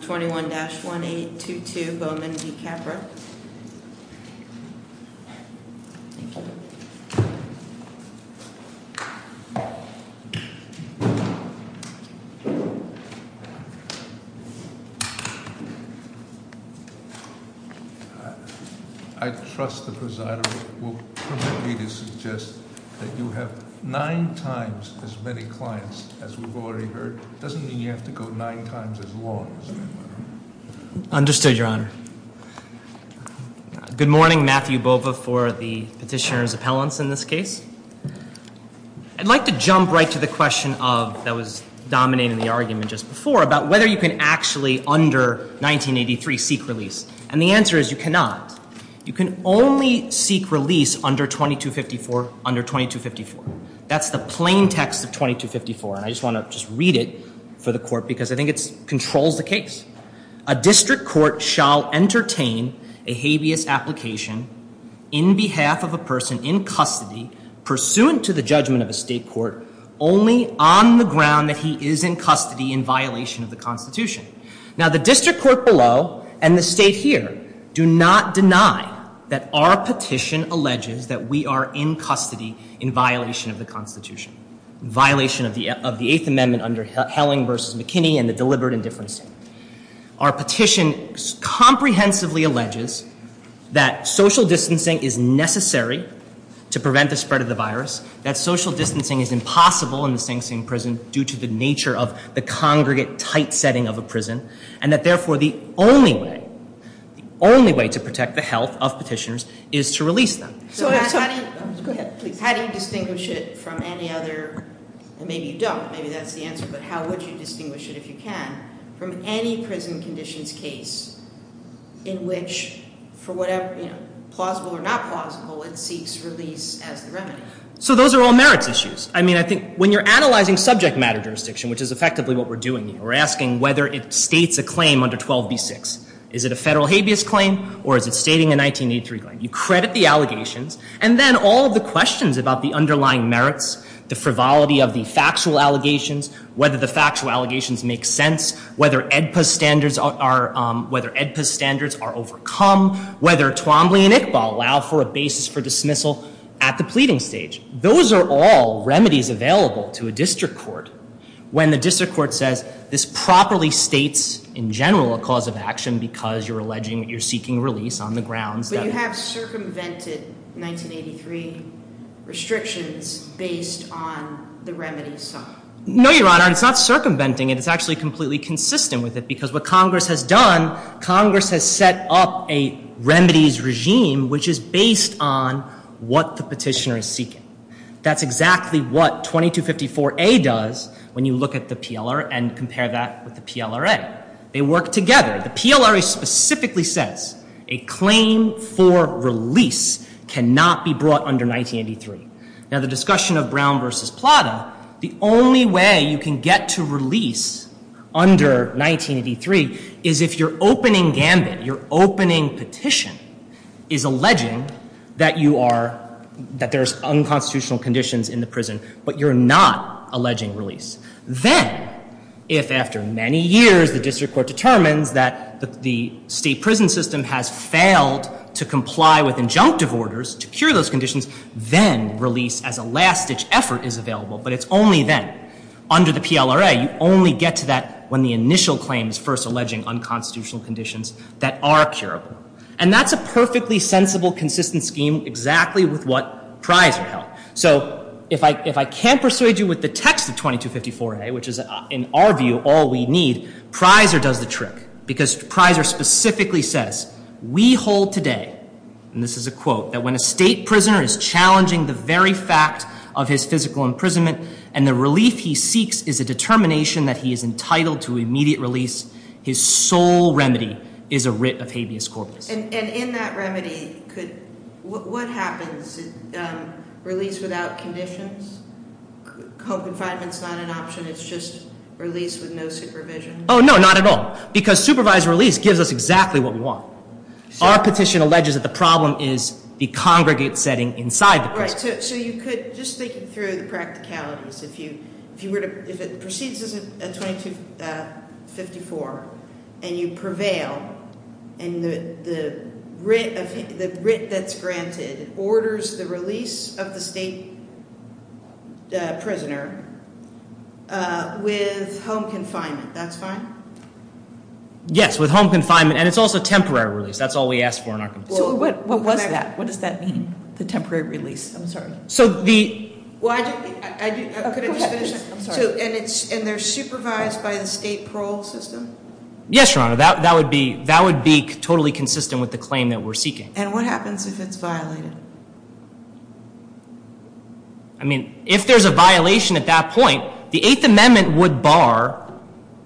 21-1822 Bowman v. Capra I trust the presider will permit me to suggest that you have nine times as many clients as we've already heard. It doesn't mean you have to go nine times as long, does it, Your Honor? Understood, Your Honor. Good morning. Matthew Bova for the petitioner's appellants in this case. I'd like to jump right to the question of, that was dominating the argument just before, about whether you can actually, under 1983, seek release. And the answer is you cannot. You can only seek release under 2254 under 2254. That's the plain text of 2254. And I just want to read it for the court because I think it controls the case. A district court shall entertain a habeas application in behalf of a person in custody pursuant to the judgment of a state court only on the ground that he is in custody in violation of the Constitution. Now, the district court below and the state here do not deny that our petition alleges that we are in custody in violation of the Constitution, in violation of the Eighth Amendment under Helling v. McKinney and the deliberate indifference statement. Our petition comprehensively alleges that social distancing is necessary to prevent the spread of the virus, that social distancing is impossible in the Sing Sing prison due to the nature of the congregate tight setting of a prison, and that therefore the only way, the only way to protect the health of petitioners is to release them. So how do you distinguish it from any other, and maybe you don't, maybe that's the answer, but how would you distinguish it, if you can, from any prison conditions case in which for whatever, you know, plausible or not plausible, it seeks release as the remedy? So those are all merits issues. I mean, I think when you're analyzing subject matter jurisdiction, which is effectively what we're doing here, we're asking whether it states a claim under 12b-6. Is it a federal habeas claim, or is it stating a 1983 claim? You credit the allegations, and then all of the questions about the underlying merits, the frivolity of the factual allegations, whether the factual allegations make sense, whether AEDPA standards are, whether AEDPA standards are overcome, whether Twombly and Iqbal allow for a basis for dismissal at the pleading stage. Those are all remedies available to a district court when the district court says, this properly states in general a cause of action because you're alleging that you're seeking release on the grounds that- But you have circumvented 1983 restrictions based on the remedies side. No, Your Honor. It's not circumventing it. It's actually completely consistent with it, because what Congress has done, Congress has set up a remedies regime, which is based on what the petitioner is seeking. That's exactly what 2254A does when you look at the PLR and compare that with the PLRA. They work together. The PLRA specifically says a claim for release cannot be brought under 1983. Now, the discussion of Brown v. Plata, the only way you can get to release under 1983 is if you're opening gambit, you're opening petition, is alleging that you are, that there's unconstitutional conditions in the prison, but you're not alleging release. Then, if after many years the district court determines that the state prison system has failed to comply with injunctive orders to cure those conditions, then release as a last-ditch effort is available. But it's only then, under the PLRA, you only get to that when the initial claim is first alleging unconstitutional conditions that are curable. And that's a perfectly sensible, consistent scheme exactly with what Prizer held. So, if I can't persuade you with the text of 2254A, which is, in our view, all we need, Prizer does the trick, because Prizer specifically says, we hold today, and this is a quote, that when a state prisoner is challenging the very fact of his physical imprisonment and the relief he seeks is a determination that he is entitled to immediate release, his sole remedy is a writ of habeas corpus. And in that remedy, what happens? Release without conditions? Home confinement's not an option? It's just release with no supervision? Oh, no, not at all. Because supervised release gives us exactly what we want. Our petition alleges that the problem is the congregate setting inside the prison. So you could, just thinking through the practicalities, if it proceeds as 2254, and you prevail, and the writ that's granted orders the release of the state prisoner with home confinement, that's fine? Yes, with home confinement, and it's also temporary release. That's all we ask for in our complaint. So what was that? What does that mean, the temporary release? I'm sorry. So the... Could I just finish? I'm sorry. And they're supervised by the state parole system? Yes, Your Honor, that would be totally consistent with the claim that we're seeking. And what happens if it's violated? I mean, if there's a violation at that point, the Eighth Amendment would bar...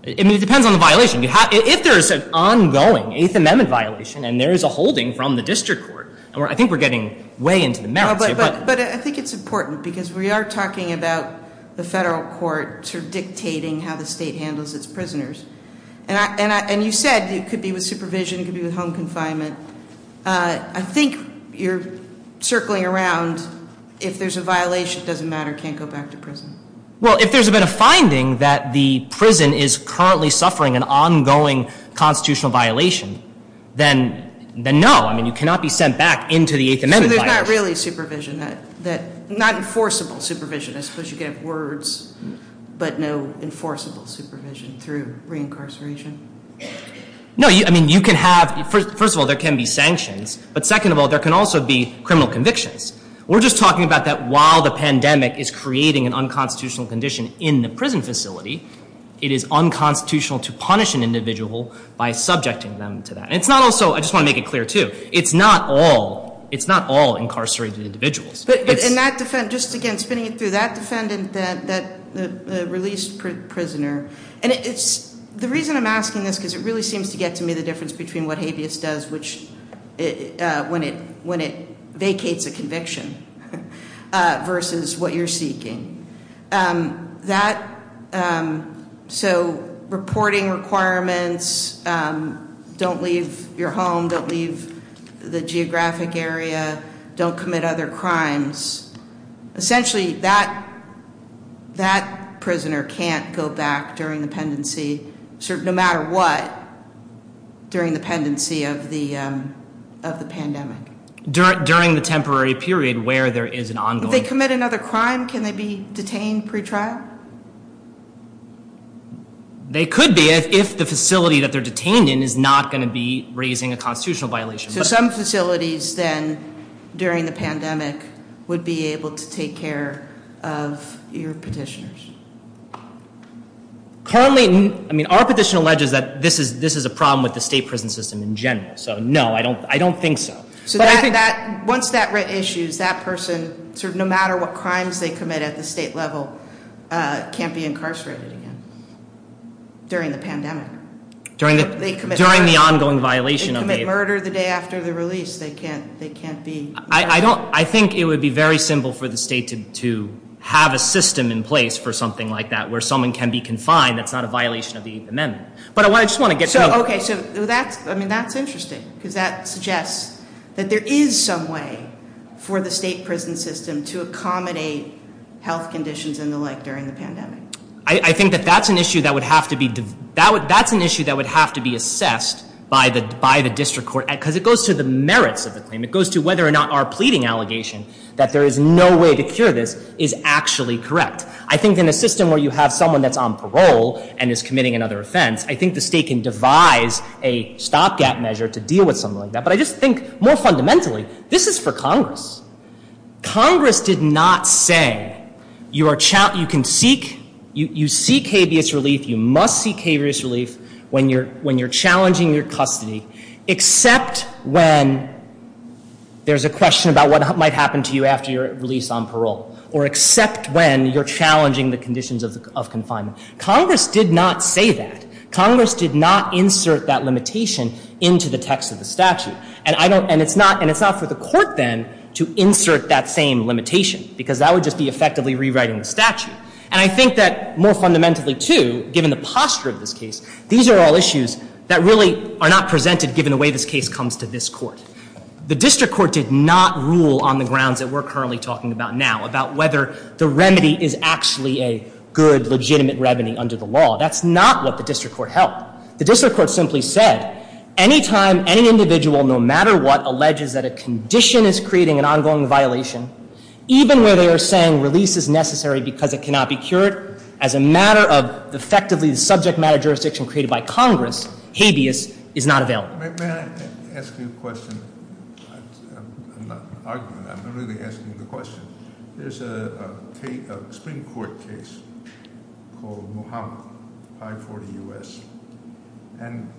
I mean, it depends on the violation. If there's an ongoing Eighth Amendment violation, and there is a holding from the district court, I think we're getting way into the merits here. But I think it's important, because we are talking about the federal court sort of dictating how the state handles its prisoners. And you said it could be with supervision, it could be with home confinement. I think you're circling around if there's a violation, it doesn't matter, can't go back to prison. Well, if there's been a finding that the prison is currently suffering an ongoing constitutional violation, then no. I mean, you cannot be sent back into the Eighth Amendment violation. So there's not really supervision, not enforceable supervision. I suppose you could have words, but no enforceable supervision through reincarceration. No, I mean, you can have... First of all, there can be sanctions, but second of all, there can also be criminal convictions. We're just talking about that while the pandemic is creating an unconstitutional condition in the prison facility, it is unconstitutional to punish an individual by subjecting them to that. And it's not also, I just want to make it clear too, it's not all incarcerated individuals. But in that defense, just again, spinning it through, that defendant, that released prisoner. And the reason I'm asking this, because it really seems to get to me the difference between what habeas does when it vacates a conviction versus what you're seeking. So reporting requirements, don't leave your home, don't leave the geographic area, don't commit other crimes. Essentially, that prisoner can't go back during the pendency, no matter what, during the pendency of the pandemic. During the temporary period where there is an ongoing... If they commit another crime, can they be detained pre-trial? They could be, if the facility that they're detained in is not going to be raising a constitutional violation. So some facilities then, during the pandemic, would be able to take care of your petitioners? Currently, our petition alleges that this is a problem with the state prison system in general. So no, I don't think so. So once that issues, that person, no matter what crimes they commit at the state level, can't be incarcerated again, during the pandemic. During the ongoing violation of the- After the release, they can't be- I think it would be very simple for the state to have a system in place for something like that, where someone can be confined, that's not a violation of the amendment. But I just want to get to- Okay, so that's interesting, because that suggests that there is some way for the state prison system to accommodate health conditions and the like during the pandemic. I think that that's an issue that would have to be- That's an issue that would have to be assessed by the district court, because it goes to the merits of the claim. It goes to whether or not our pleading allegation that there is no way to cure this is actually correct. I think in a system where you have someone that's on parole and is committing another offense, I think the state can devise a stopgap measure to deal with something like that. But I just think, more fundamentally, this is for Congress. Congress did not say you can seek, you seek habeas relief, you must seek habeas relief when you're challenging your custody, except when there's a question about what might happen to you after your release on parole, or except when you're challenging the conditions of confinement. Congress did not say that. Congress did not insert that limitation into the text of the statute. And it's not for the court, then, to insert that same limitation, because that would just be effectively rewriting the statute. And I think that, more fundamentally, too, given the posture of this case, these are all issues that really are not presented given the way this case comes to this court. The district court did not rule on the grounds that we're currently talking about now, about whether the remedy is actually a good, legitimate revenue under the law. That's not what the district court held. The district court simply said, anytime any individual, no matter what, alleges that a condition is creating an ongoing violation, even where they are saying release is necessary because it cannot be cured, as a matter of effectively the subject matter jurisdiction created by Congress, habeas is not available. May I ask you a question? I'm not arguing, I'm really asking the question. There's a Supreme Court case called Muhammad, I-40 U.S., and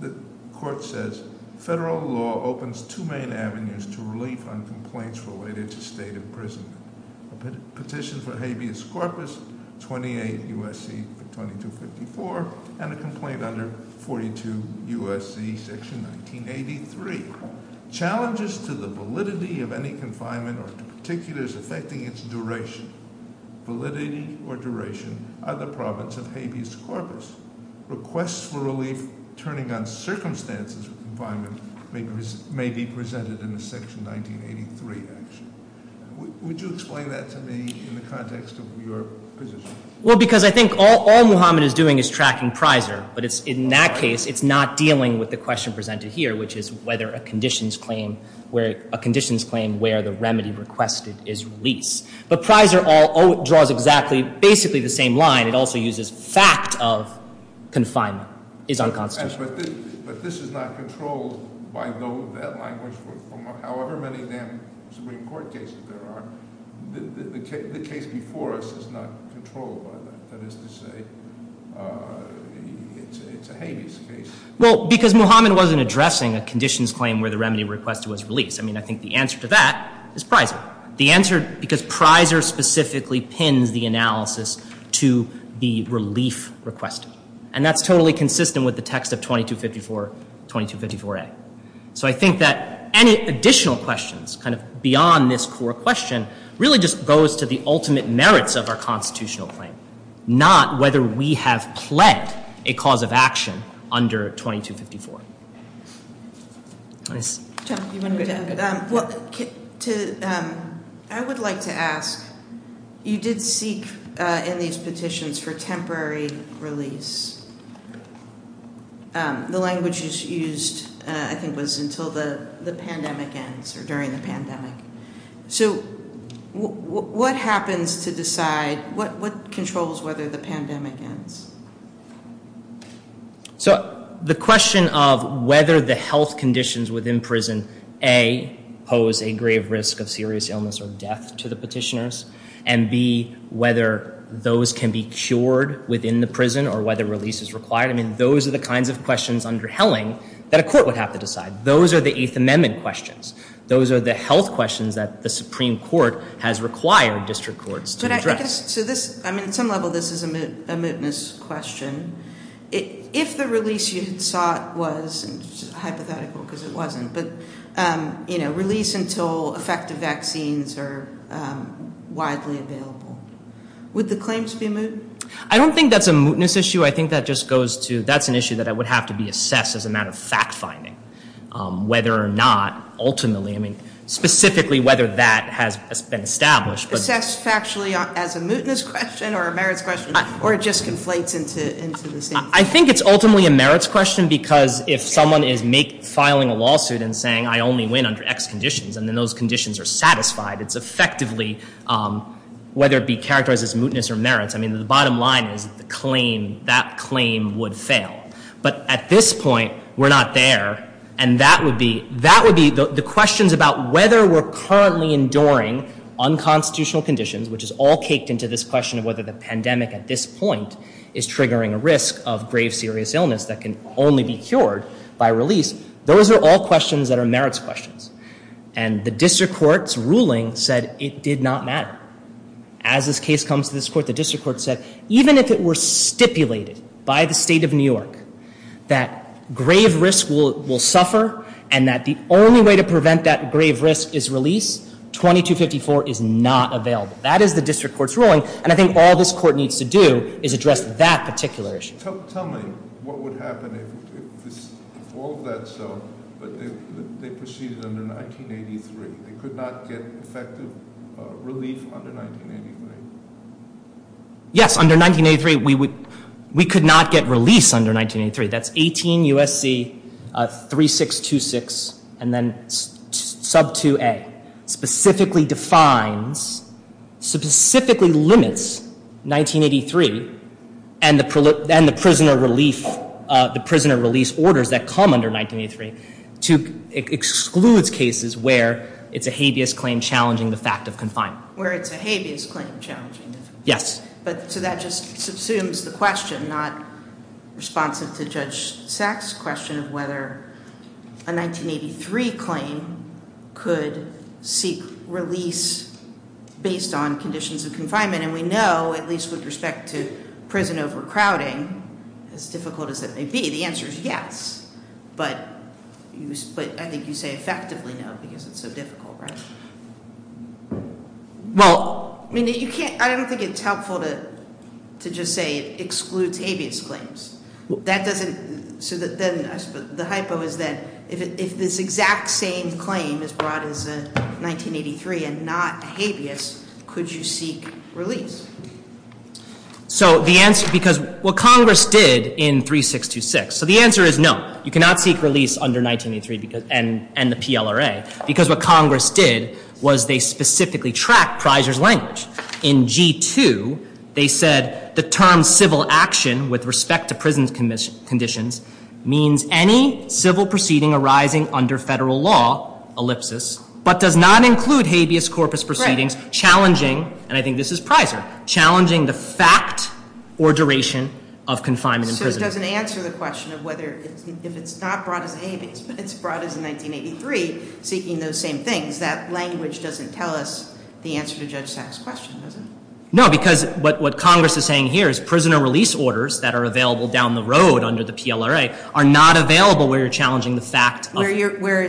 the court says, Federal law opens two main avenues to relief on complaints related to state imprisonment. A petition for habeas corpus, 28 U.S.C. 2254, and a complaint under 42 U.S.C. section 1983. Challenges to the validity of any confinement or to particulars affecting its duration, validity or duration, are the province of habeas corpus. Requests for relief turning on circumstances of confinement may be presented in the section 1983 action. Would you explain that to me in the context of your position? Well, because I think all Muhammad is doing is tracking Prizer, but in that case, it's not dealing with the question presented here, which is whether a conditions claim where the remedy requested is released. But Prizer draws basically the same line. It also uses fact of confinement is unconstitutional. But this is not controlled by that language from however many Supreme Court cases there are. The case before us is not controlled by that. That is to say, it's a habeas case. Well, because Muhammad wasn't addressing a conditions claim where the remedy requested was released. I mean, I think the answer to that is Prizer. The answer, because Prizer specifically pins the analysis to the relief request. And that's totally consistent with the text of 2254, 2254A. So I think that any additional questions kind of beyond this core question really just goes to the ultimate merits of our constitutional claim, not whether we have pled a cause of action under 2254. Nice. John, do you want to go? Well, I would like to ask, you did seek in these petitions for temporary release. The language used, I think, was until the pandemic ends or during the pandemic. So what happens to decide, what controls whether the pandemic ends? So the question of whether the health conditions within prison, A, pose a grave risk of serious illness or death to the petitioners, and B, whether those can be cured within the prison or whether release is required, I mean, those are the kinds of questions under Helling that a court would have to decide. Those are the Eighth Amendment questions. Those are the health questions that the Supreme Court has required district courts to address. So this, I mean, at some level this is a mootness question. If the release you had sought was, and this is hypothetical because it wasn't, but release until effective vaccines are widely available, would the claims be moot? I don't think that's a mootness issue. I think that just goes to that's an issue that would have to be assessed as a matter of fact-finding, whether or not ultimately, I mean, specifically whether that has been established. Assessed factually as a mootness question or a merits question, or it just conflates into the same thing? I think it's ultimately a merits question because if someone is filing a lawsuit and saying, I only win under X conditions, and then those conditions are satisfied, it's effectively whether it be characterized as mootness or merits. I mean, the bottom line is the claim, that claim would fail. But at this point, we're not there. And that would be, that would be the questions about whether we're currently enduring unconstitutional conditions, which is all caked into this question of whether the pandemic at this point is triggering a risk of grave serious illness that can only be cured by release. Those are all questions that are merits questions. And the district court's ruling said it did not matter. As this case comes to this court, the district court said even if it were stipulated by the state of New York that grave risk will suffer and that the only way to prevent that grave risk is release, 2254 is not available. That is the district court's ruling. And I think all this court needs to do is address that particular issue. Tell me what would happen if all of that so, but they proceeded under 1983. They could not get effective relief under 1983. Yes, under 1983, we would, we could not get release under 1983. That's 18 U.S.C. 3626 and then sub 2A specifically defines, specifically limits 1983 and the prisoner relief, the prisoner release orders that come under 1983 to exclude cases where it's a habeas claim challenging the fact of confinement. Where it's a habeas claim challenging. Yes. So that just subsumes the question, not responsive to Judge Sack's question of whether a 1983 claim could seek release based on conditions of confinement. And we know, at least with respect to prison overcrowding, as difficult as that may be, the answer is yes. But I think you say effectively no because it's so difficult, right? Well, I mean you can't, I don't think it's helpful to just say it excludes habeas claims. That doesn't, so then the hypo is that if this exact same claim is brought as a 1983 and not habeas, could you seek release? So the answer, because what Congress did in 3626, so the answer is no. You cannot seek release under 1983 and the PLRA because what Congress did was they specifically tracked Pryser's language. In G2, they said the term civil action with respect to prison conditions means any civil proceeding arising under federal law, ellipsis, but does not include habeas corpus proceedings challenging, and I think this is Pryser, challenging the fact or duration of confinement in prison. So it doesn't answer the question of whether, if it's not brought as a habeas, but it's brought as a 1983, seeking those same things. That language doesn't tell us the answer to Judge Sack's question, does it? No, because what Congress is saying here is prisoner release orders that are available down the road under the PLRA are not available where you're challenging the fact of- Where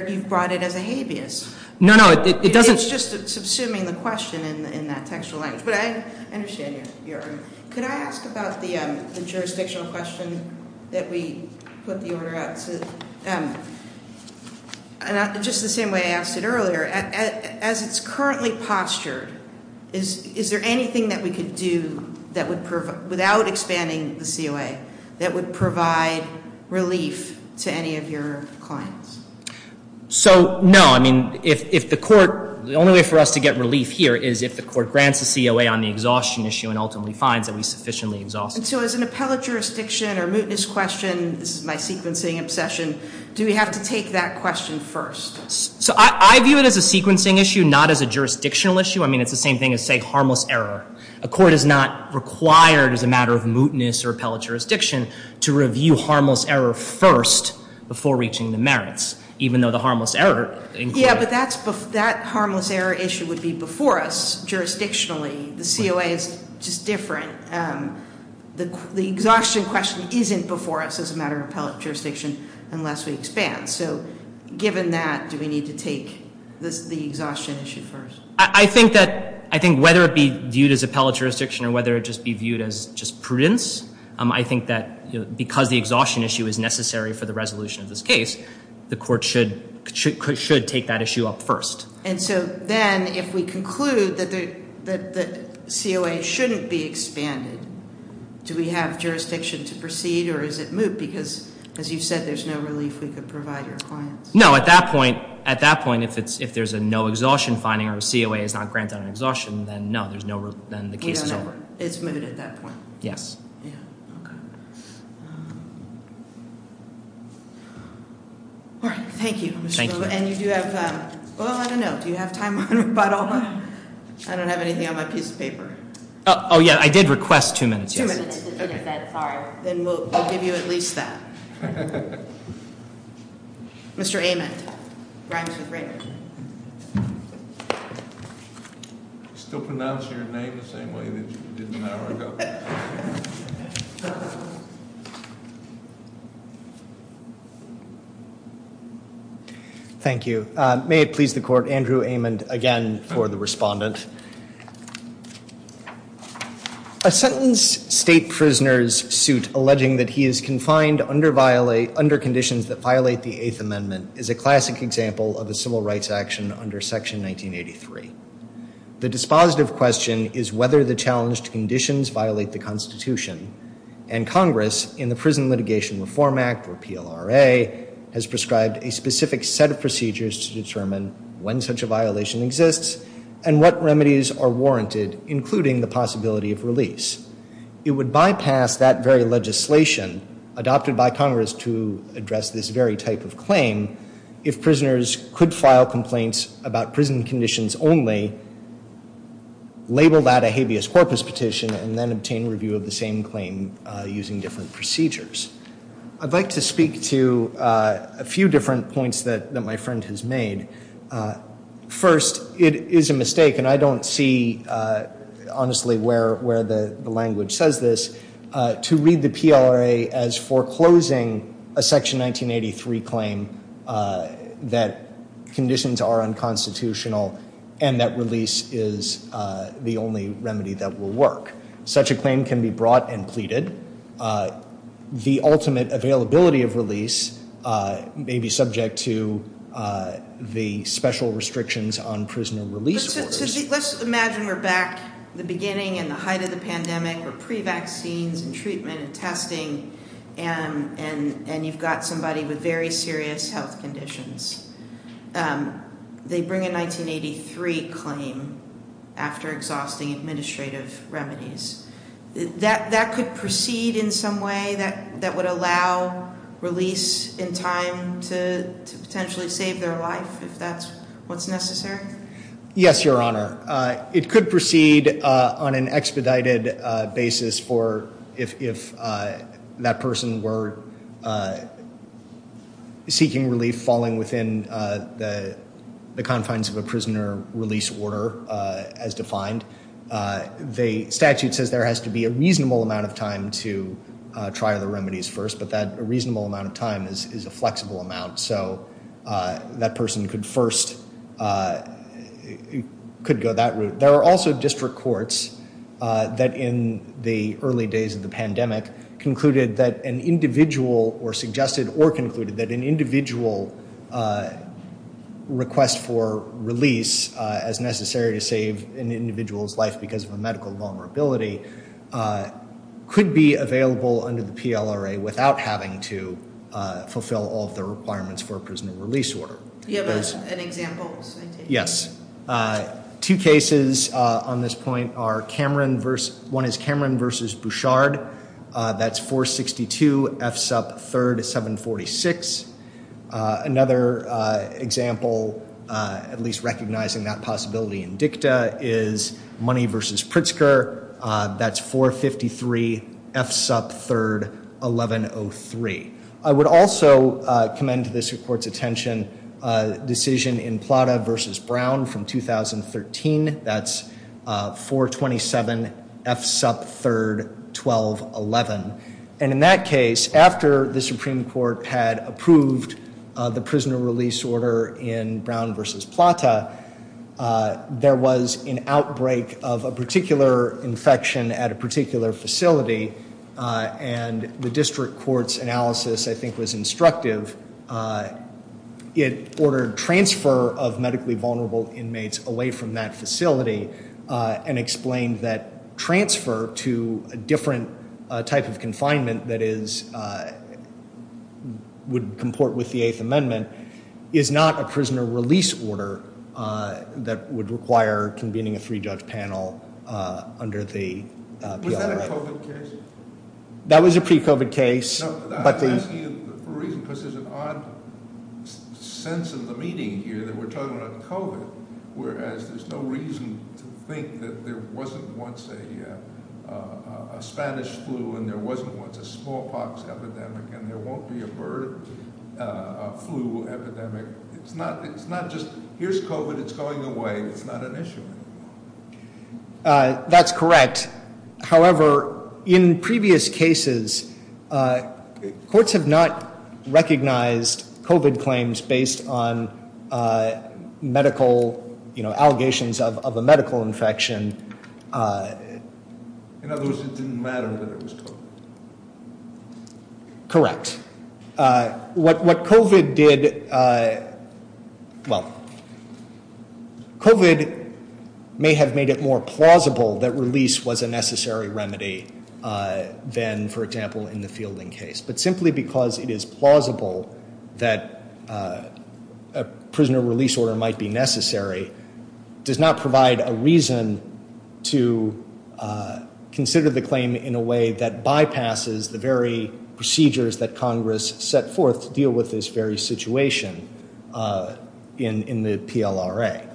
you've brought it as a habeas. No, no, it doesn't- It's just subsuming the question in that textual language. But I understand your argument. Could I ask about the jurisdictional question that we put the order out to? And just the same way I asked it earlier, as it's currently postured, is there anything that we could do without expanding the COA that would provide relief to any of your clients? So, no. I mean, if the court, the only way for us to get relief here is if the court grants the COA on the exhaustion issue and ultimately finds that we sufficiently exhausted it. And so as an appellate jurisdiction or mootness question, this is my sequencing obsession, do we have to take that question first? So I view it as a sequencing issue, not as a jurisdictional issue. I mean, it's the same thing as, say, harmless error. A court is not required as a matter of mootness or appellate jurisdiction to review harmless error first before reaching the merits, even though the harmless error- The exhaustion question isn't before us as a matter of appellate jurisdiction unless we expand. So given that, do we need to take the exhaustion issue first? I think whether it be viewed as appellate jurisdiction or whether it just be viewed as just prudence, I think that because the exhaustion issue is necessary for the resolution of this case, the court should take that issue up first. And so then, if we conclude that the COA shouldn't be expanded, do we have jurisdiction to proceed or is it moot? Because, as you said, there's no relief we could provide your clients. No, at that point, if there's a no exhaustion finding or a COA is not granted on exhaustion, then no, there's no, then the case is over. We don't know. It's moot at that point. Yes. Yeah, okay. All right, thank you, Mr. Bloom. Thank you. And you do have, well, I don't know, do you have time on your bottle? I don't have anything on my piece of paper. Oh, yeah, I did request two minutes. Two minutes. Sorry. Then we'll give you at least that. Mr. Amond. Rhymes with Raymond. Still pronouncing your name the same way that you did an hour ago. Thank you. May it please the court, Andrew Amond again for the respondent. A sentence state prisoner's suit alleging that he is confined under conditions that violate the Eighth Amendment is a classic example of a civil rights action under Section 1983. The dispositive question is whether the challenged conditions violate the Constitution. And Congress, in the Prison Litigation Reform Act, or PLRA, has prescribed a specific set of procedures to determine when such a violation exists and what remedies are warranted, including the possibility of release. It would bypass that very legislation adopted by Congress to address this very type of claim if prisoners could file complaints about prison conditions only, label that a habeas corpus petition, and then obtain review of the same claim using different procedures. I'd like to speak to a few different points that my friend has made. First, it is a mistake, and I don't see honestly where the language says this, to read the PLRA as foreclosing a Section 1983 claim that conditions are unconstitutional and that release is the only remedy that will work. Such a claim can be brought and pleaded. The ultimate availability of release may be subject to the special restrictions on prisoner release orders. Let's imagine we're back in the beginning and the height of the pandemic. We're pre-vaccines and treatment and testing, and you've got somebody with very serious health conditions. They bring a 1983 claim after exhausting administrative remedies. That could proceed in some way that would allow release in time to potentially save their life if that's what's necessary? Yes, Your Honor. It could proceed on an expedited basis for if that person were seeking relief, falling within the confines of a prisoner release order as defined. The statute says there has to be a reasonable amount of time to try the remedies first, but that a reasonable amount of time is a flexible amount, so that person could go that route. There are also district courts that, in the early days of the pandemic, suggested or concluded that an individual request for release as necessary to save an individual's life because of a medical vulnerability could be available under the PLRA without having to fulfill all of the requirements for a prisoner release order. Do you have an example? Yes. Two cases on this point are Cameron versus, one is Cameron versus Bouchard. That's 462 F SUP 3rd 746. Another example, at least recognizing that possibility in dicta, is Money versus Pritzker. That's 453 F SUP 3rd 1103. I would also commend to this court's attention a decision in Plata versus Brown from 2013. That's 427 F SUP 3rd 1211. And in that case, after the Supreme Court had approved the prisoner release order in Brown versus Plata, there was an outbreak of a particular infection at a particular facility, and the district court's analysis, I think, was instructive. It ordered transfer of medically vulnerable inmates away from that facility and explained that transfer to a different type of confinement that would comport with the Eighth Amendment is not a prisoner release order that would require convening a three-judge panel under the PLRA. Was that a COVID case? That was a pre-COVID case. I'm asking you for a reason, because there's an odd sense in the meeting here that we're talking about COVID, whereas there's no reason to think that there wasn't once a Spanish flu and there wasn't once a smallpox epidemic and there won't be a bird flu epidemic. It's not just, here's COVID, it's going away, it's not an issue. That's correct. However, in previous cases, courts have not recognized COVID claims based on medical allegations of a medical infection. In other words, it didn't matter that it was COVID. Correct. What COVID did, well, COVID may have made it more plausible that release was a necessary remedy than, for example, in the fielding case. But simply because it is plausible that a prisoner release order might be necessary does not provide a reason to consider the claim in a way that bypasses the very procedures that Congress set forth to deal with this very situation in the PLRA.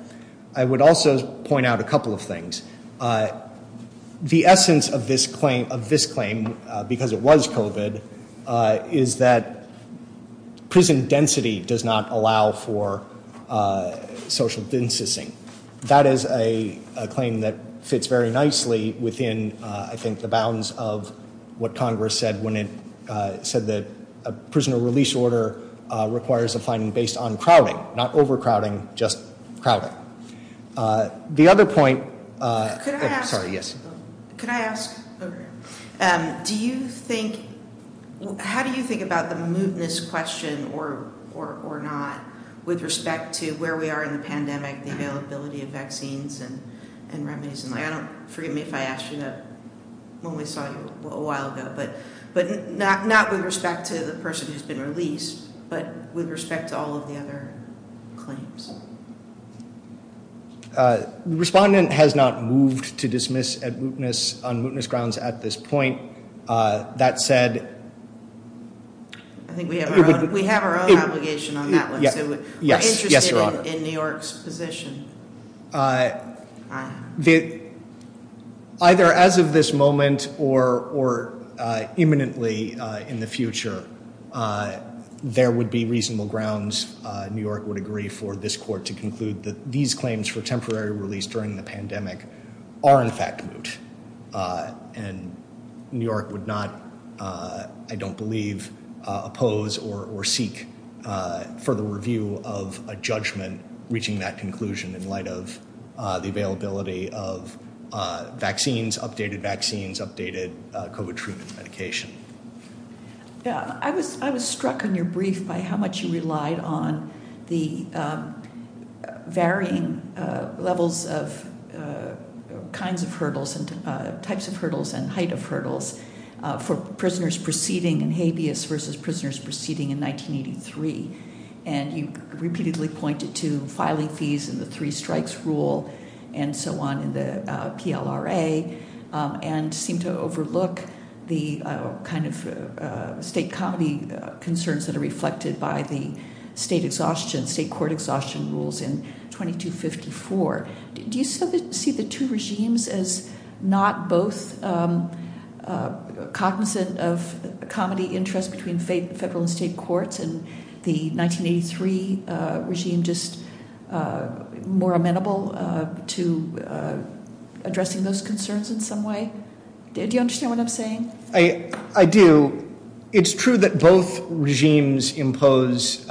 I would also point out a couple of things. The essence of this claim, because it was COVID, is that prison density does not allow for social distancing. That is a claim that fits very nicely within, I think, the bounds of what Congress said when it said that a prisoner release order requires a finding based on crowding, not overcrowding, just crowding. The other point... Could I ask... Sorry, yes. Could I ask... Do you think... How do you think about the mootness question or not with respect to where we are in the pandemic, the availability of vaccines and remedies? And I don't... Forgive me if I asked you that when we saw you a while ago, but not with respect to the person who's been released, but with respect to all of the other claims. The respondent has not moved to dismiss on mootness grounds at this point. That said... I think we have our own obligation on that one. Yes. We're interested in New York's position. Either as of this moment or imminently in the future, there would be reasonable grounds, New York would agree for this court to conclude that these claims for temporary release during the pandemic are in fact moot. And New York would not, I don't believe, oppose or seek further review of a judgment reaching that conclusion in light of the availability of vaccines, updated vaccines, updated COVID treatment medication. I was struck on your brief by how much you relied on the varying levels of kinds of hurdles and types of hurdles and height of hurdles for prisoners proceeding in habeas versus prisoners proceeding in 1983. And you repeatedly pointed to filing fees and the three strikes rule and so on in the PLRA and seem to overlook the kind of state comedy concerns that are reflected by the state exhaustion, state court exhaustion rules in 2254. Do you see the two regimes as not both cognizant of comedy interest between federal and state courts and the 1983 regime just more amenable to addressing those concerns in some way? Do you understand what I'm saying? I do. It's true that both regimes impose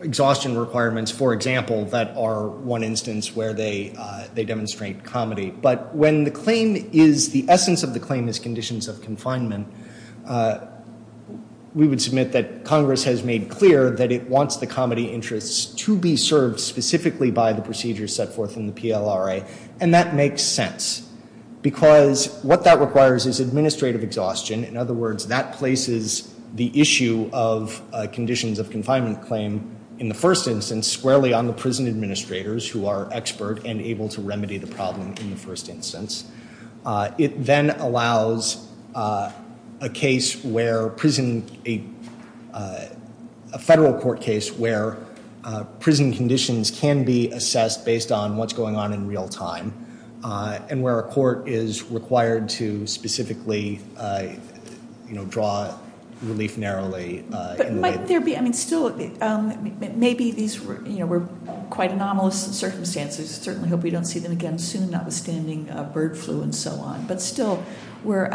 exhaustion requirements, for example, that are one instance where they demonstrate comedy. But when the claim is, the essence of the claim is conditions of confinement, we would submit that Congress has made clear that it wants the comedy interests to be served specifically by the procedures set forth in the PLRA. And that makes sense because what that requires is administrative exhaustion. In other words, that places the issue of conditions of confinement claim in the first instance squarely on the prison administrators who are expert and able to remedy the problem in the first instance. It then allows a federal court case where prison conditions can be assessed based on what's going on in real time and where a court is required to specifically draw relief narrowly. But might there be, I mean, still, maybe these were quite anomalous circumstances. Certainly hope we don't see them again soon, notwithstanding bird flu and so on. But still, we were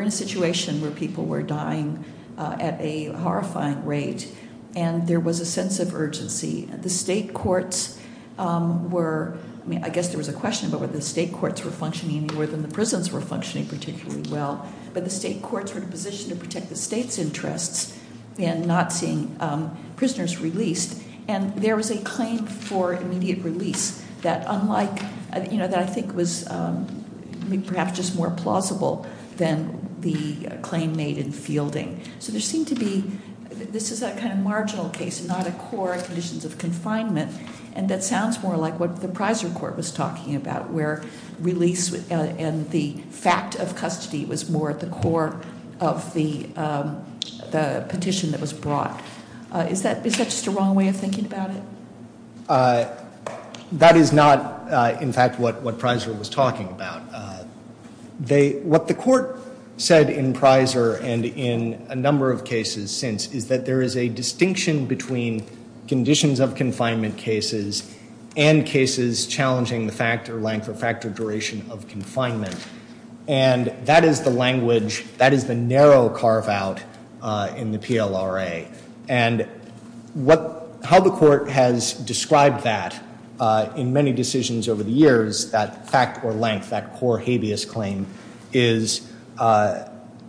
in a situation where people were dying at a horrifying rate and there was a sense of urgency. The state courts were, I mean, I guess there was a question about whether the state courts were functioning any more than the prisons were functioning particularly well. But the state courts were in a position to protect the state's interests in not seeing prisoners released. And there was a claim for immediate release that I think was perhaps just more plausible than the claim made in fielding. So there seemed to be, this is a kind of marginal case, not a core conditions of confinement. And that sounds more like what the Prizer court was talking about where release and the fact of custody was more at the core of the petition that was brought. Is that just a wrong way of thinking about it? That is not, in fact, what Prizer was talking about. What the court said in Prizer and in a number of cases since, is that there is a distinction between conditions of confinement cases and cases challenging the fact or length or factor duration of confinement. And that is the language, that is the narrow carve out in the PLRA. And how the court has described that in many decisions over the years, that fact or length, that core habeas claim is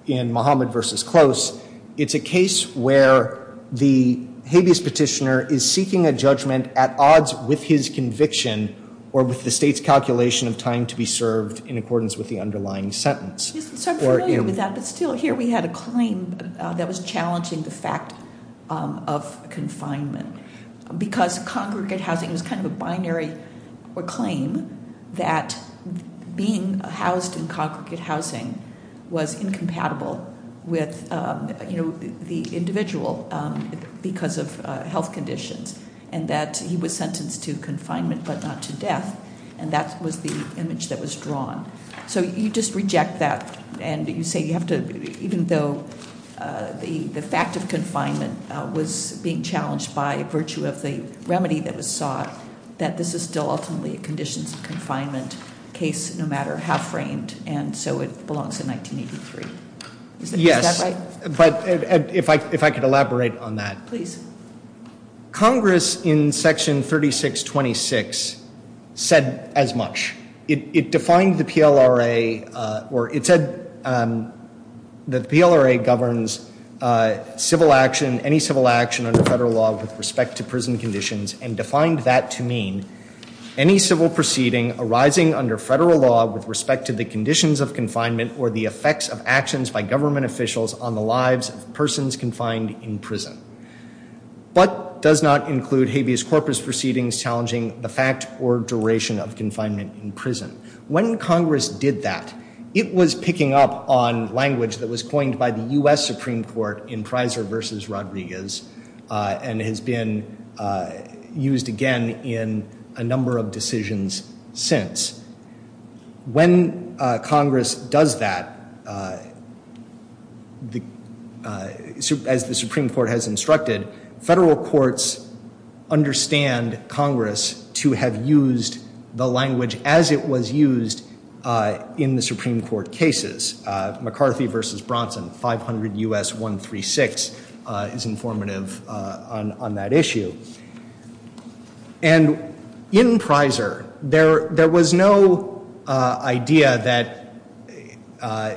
in Mohammed versus Close. It's a case where the habeas petitioner is seeking a judgment at odds with his conviction or with the state's calculation of time to be served in accordance with the underlying sentence. Yes, I'm familiar with that, but still here we had a claim that was challenging the fact of confinement. Because congregate housing is kind of a binary or claim that being housed in congregate housing was incompatible with the individual because of health conditions. And that he was sentenced to confinement but not to death. And that was the image that was drawn. So you just reject that and you say you have to, even though the fact of confinement was being challenged by virtue of the remedy that was sought, that this is still ultimately a conditions of confinement case no matter how framed. And so it belongs to 1983. Is that right? Yes, but if I could elaborate on that. Please. Congress in section 3626 said as much. It defined the PLRA or it said the PLRA governs civil action, any civil action under federal law with respect to prison conditions and defined that to mean any civil proceeding arising under federal law with respect to the conditions of confinement or the effects of actions by government officials on the lives of persons confined in prison. But does not include habeas corpus proceedings challenging the fact or duration of confinement in prison. When Congress did that, it was picking up on language that was coined by the U.S. Supreme Court in Prizer versus Rodriguez and has been used again in a number of decisions since. When Congress does that, as the Supreme Court has instructed, federal courts understand Congress to have used the language as it was used in the Supreme Court cases. McCarthy versus Bronson, 500 U.S. 136 is informative on that issue. And in Prizer, there was no idea that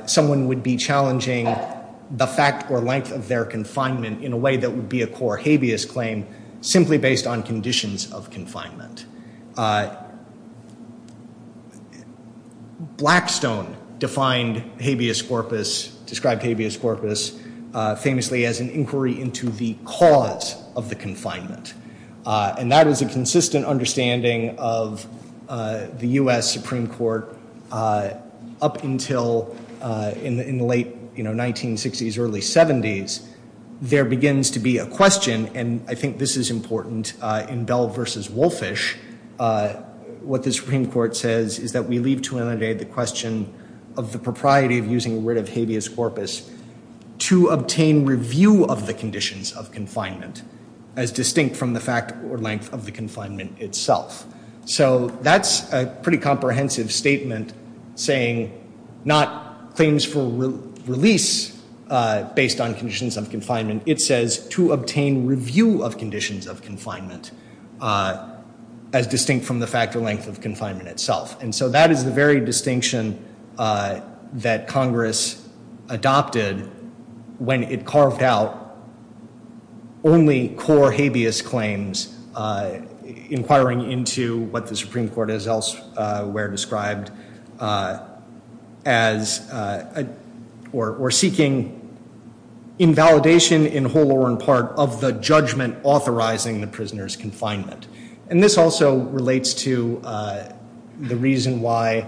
someone would be challenging the fact or length of their confinement in a way that would be a core habeas claim simply based on conditions of confinement. Blackstone defined habeas corpus, described habeas corpus famously as an inquiry into the cause of the confinement. And that was a consistent understanding of the U.S. Supreme Court up until in the late 1960s, early 70s. There begins to be a question, and I think this is important in Bell versus Wolfish, what the Supreme Court says is that we leave to inundate the question of the propriety of using the word of habeas corpus to obtain review of the conditions of confinement as distinct from the fact or length of the confinement itself. So that's a pretty comprehensive statement saying not claims for release based on conditions of confinement. It says to obtain review of conditions of confinement as distinct from the fact or length of confinement itself. And so that is the very distinction that Congress adopted when it carved out only core habeas claims, inquiring into what the Supreme Court has elsewhere described as or seeking invalidation in whole or in part of the judgment authorizing the prisoner's confinement. And this also relates to the reason why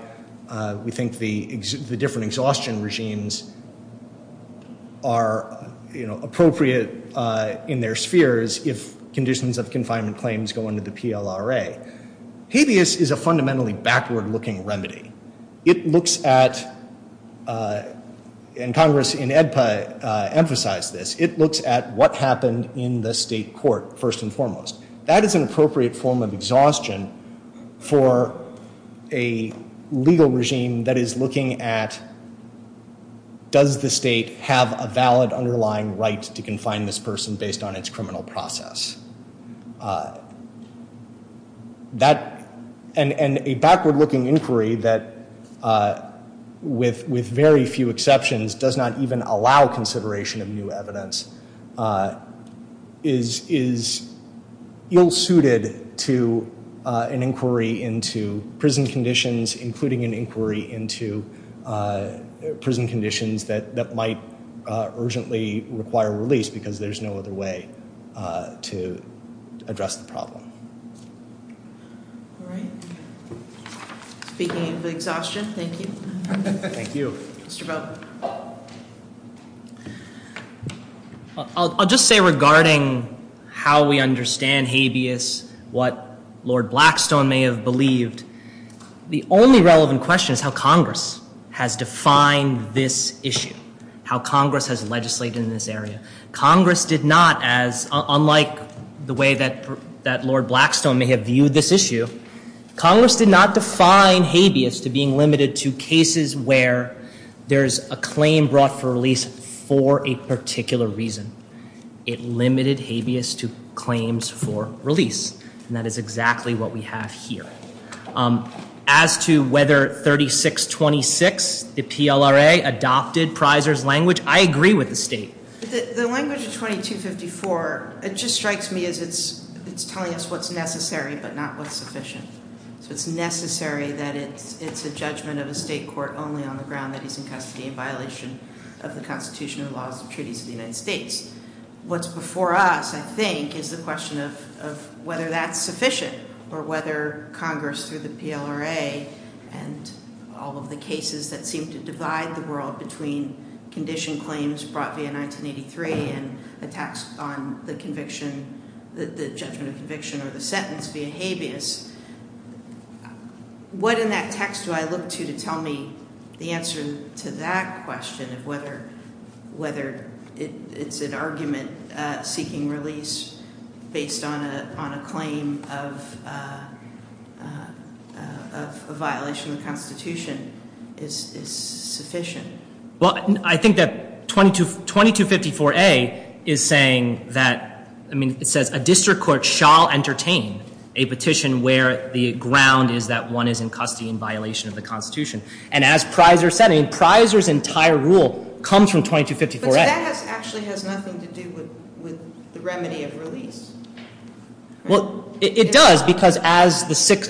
we think the different exhaustion regimes are, you know, appropriate in their spheres if conditions of confinement claims go under the PLRA. Habeas is a fundamentally backward-looking remedy. It looks at, and Congress in AEDPA emphasized this, it looks at what happened in the state court first and foremost. That is an appropriate form of exhaustion for a legal regime that is looking at does the state have a valid underlying right to confine this person based on its criminal process. That, and a backward-looking inquiry that with very few exceptions does not even allow consideration of new evidence is ill-suited to an inquiry into prison conditions, including an inquiry into prison conditions that might urgently require release because there's no other way to address the problem. All right. Speaking of exhaustion, thank you. Thank you. Mr. Bell. I'll just say regarding how we understand habeas, what Lord Blackstone may have believed, the only relevant question is how Congress has defined this issue, how Congress has legislated in this area. Congress did not as, unlike the way that Lord Blackstone may have viewed this issue, Congress did not define habeas to being limited to cases where there's a claim brought for release for a particular reason. It limited habeas to claims for release, and that is exactly what we have here. As to whether 3626, the PLRA, adopted Prisor's language, I agree with the state. The language of 2254, it just strikes me as it's telling us what's necessary but not what's sufficient. So it's necessary that it's a judgment of a state court only on the ground that he's in custody in violation of the Constitution and laws and treaties of the United States. What's before us, I think, is the question of whether that's sufficient or whether Congress through the PLRA and all of the cases that seem to divide the world between condition claims brought via 1983 and attacks on the conviction, the judgment of conviction or the sentence via habeas, what in that text do I look to to tell me the answer to that question of whether it's an argument seeking release based on a claim of a violation of the Constitution is sufficient? Well, I think that 2254A is saying that, I mean, it says a district court shall entertain a petition where the ground is that one is in custody in violation of the Constitution. And as Prisor said, I mean, Prisor's entire rule comes from 2254A. But that actually has nothing to do with the remedy of release. Well, it does because as the Sixth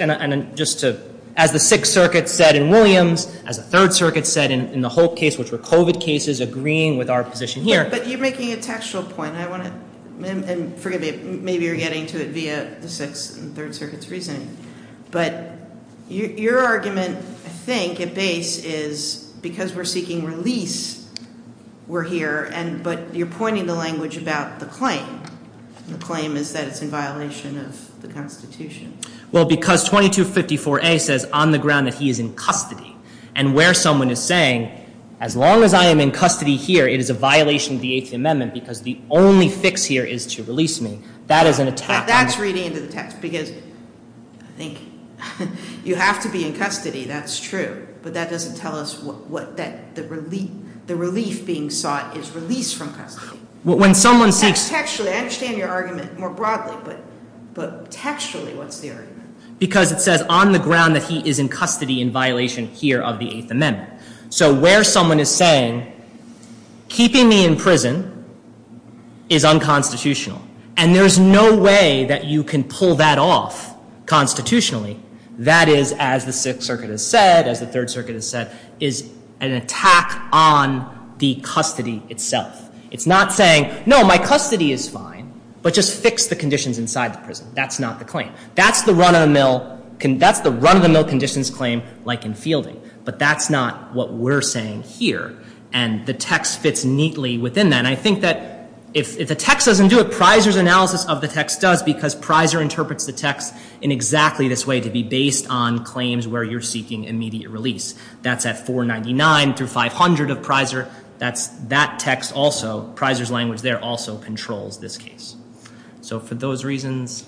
Circuit said in Williams, as the Third Circuit said in the Hope case, which were COVID cases agreeing with our position here. But you're making a textual point. And forgive me, maybe you're getting to it via the Sixth and Third Circuit's reasoning. But your argument, I think, at base is because we're seeking release, we're here. But you're pointing the language about the claim. The claim is that it's in violation of the Constitution. Well, because 2254A says on the ground that he is in custody and where someone is saying, as long as I am in custody here, it is a violation of the Eighth Amendment because the only fix here is to release me. That is an attack. That's reading into the text because I think you have to be in custody. That's true. But that doesn't tell us that the relief being sought is release from custody. Textually, I understand your argument more broadly. But textually, what's the argument? Because it says on the ground that he is in custody in violation here of the Eighth Amendment. So where someone is saying, keeping me in prison is unconstitutional. And there's no way that you can pull that off constitutionally. That is, as the Sixth Circuit has said, as the Third Circuit has said, is an attack on the custody itself. It's not saying, no, my custody is fine, but just fix the conditions inside the prison. That's not the claim. That's the run-of-the-mill conditions claim like in fielding. But that's not what we're saying here. And the text fits neatly within that. And I think that if the text doesn't do it, Prysor's analysis of the text does, because Prysor interprets the text in exactly this way, to be based on claims where you're seeking immediate release. That's at 499 through 500 of Prysor. That text also, Prysor's language there, also controls this case. So for those reasons,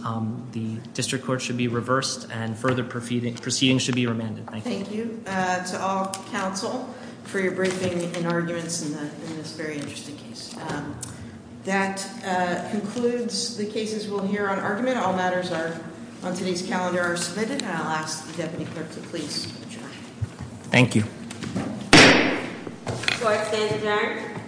the district court should be reversed and further proceedings should be remanded. Thank you. Thank you to all counsel for your briefing and arguments in this very interesting case. That concludes the cases we'll hear on argument. All matters on today's calendar are submitted. And I'll ask the deputy clerk to please adjourn. Thank you. Do I stand adjourned?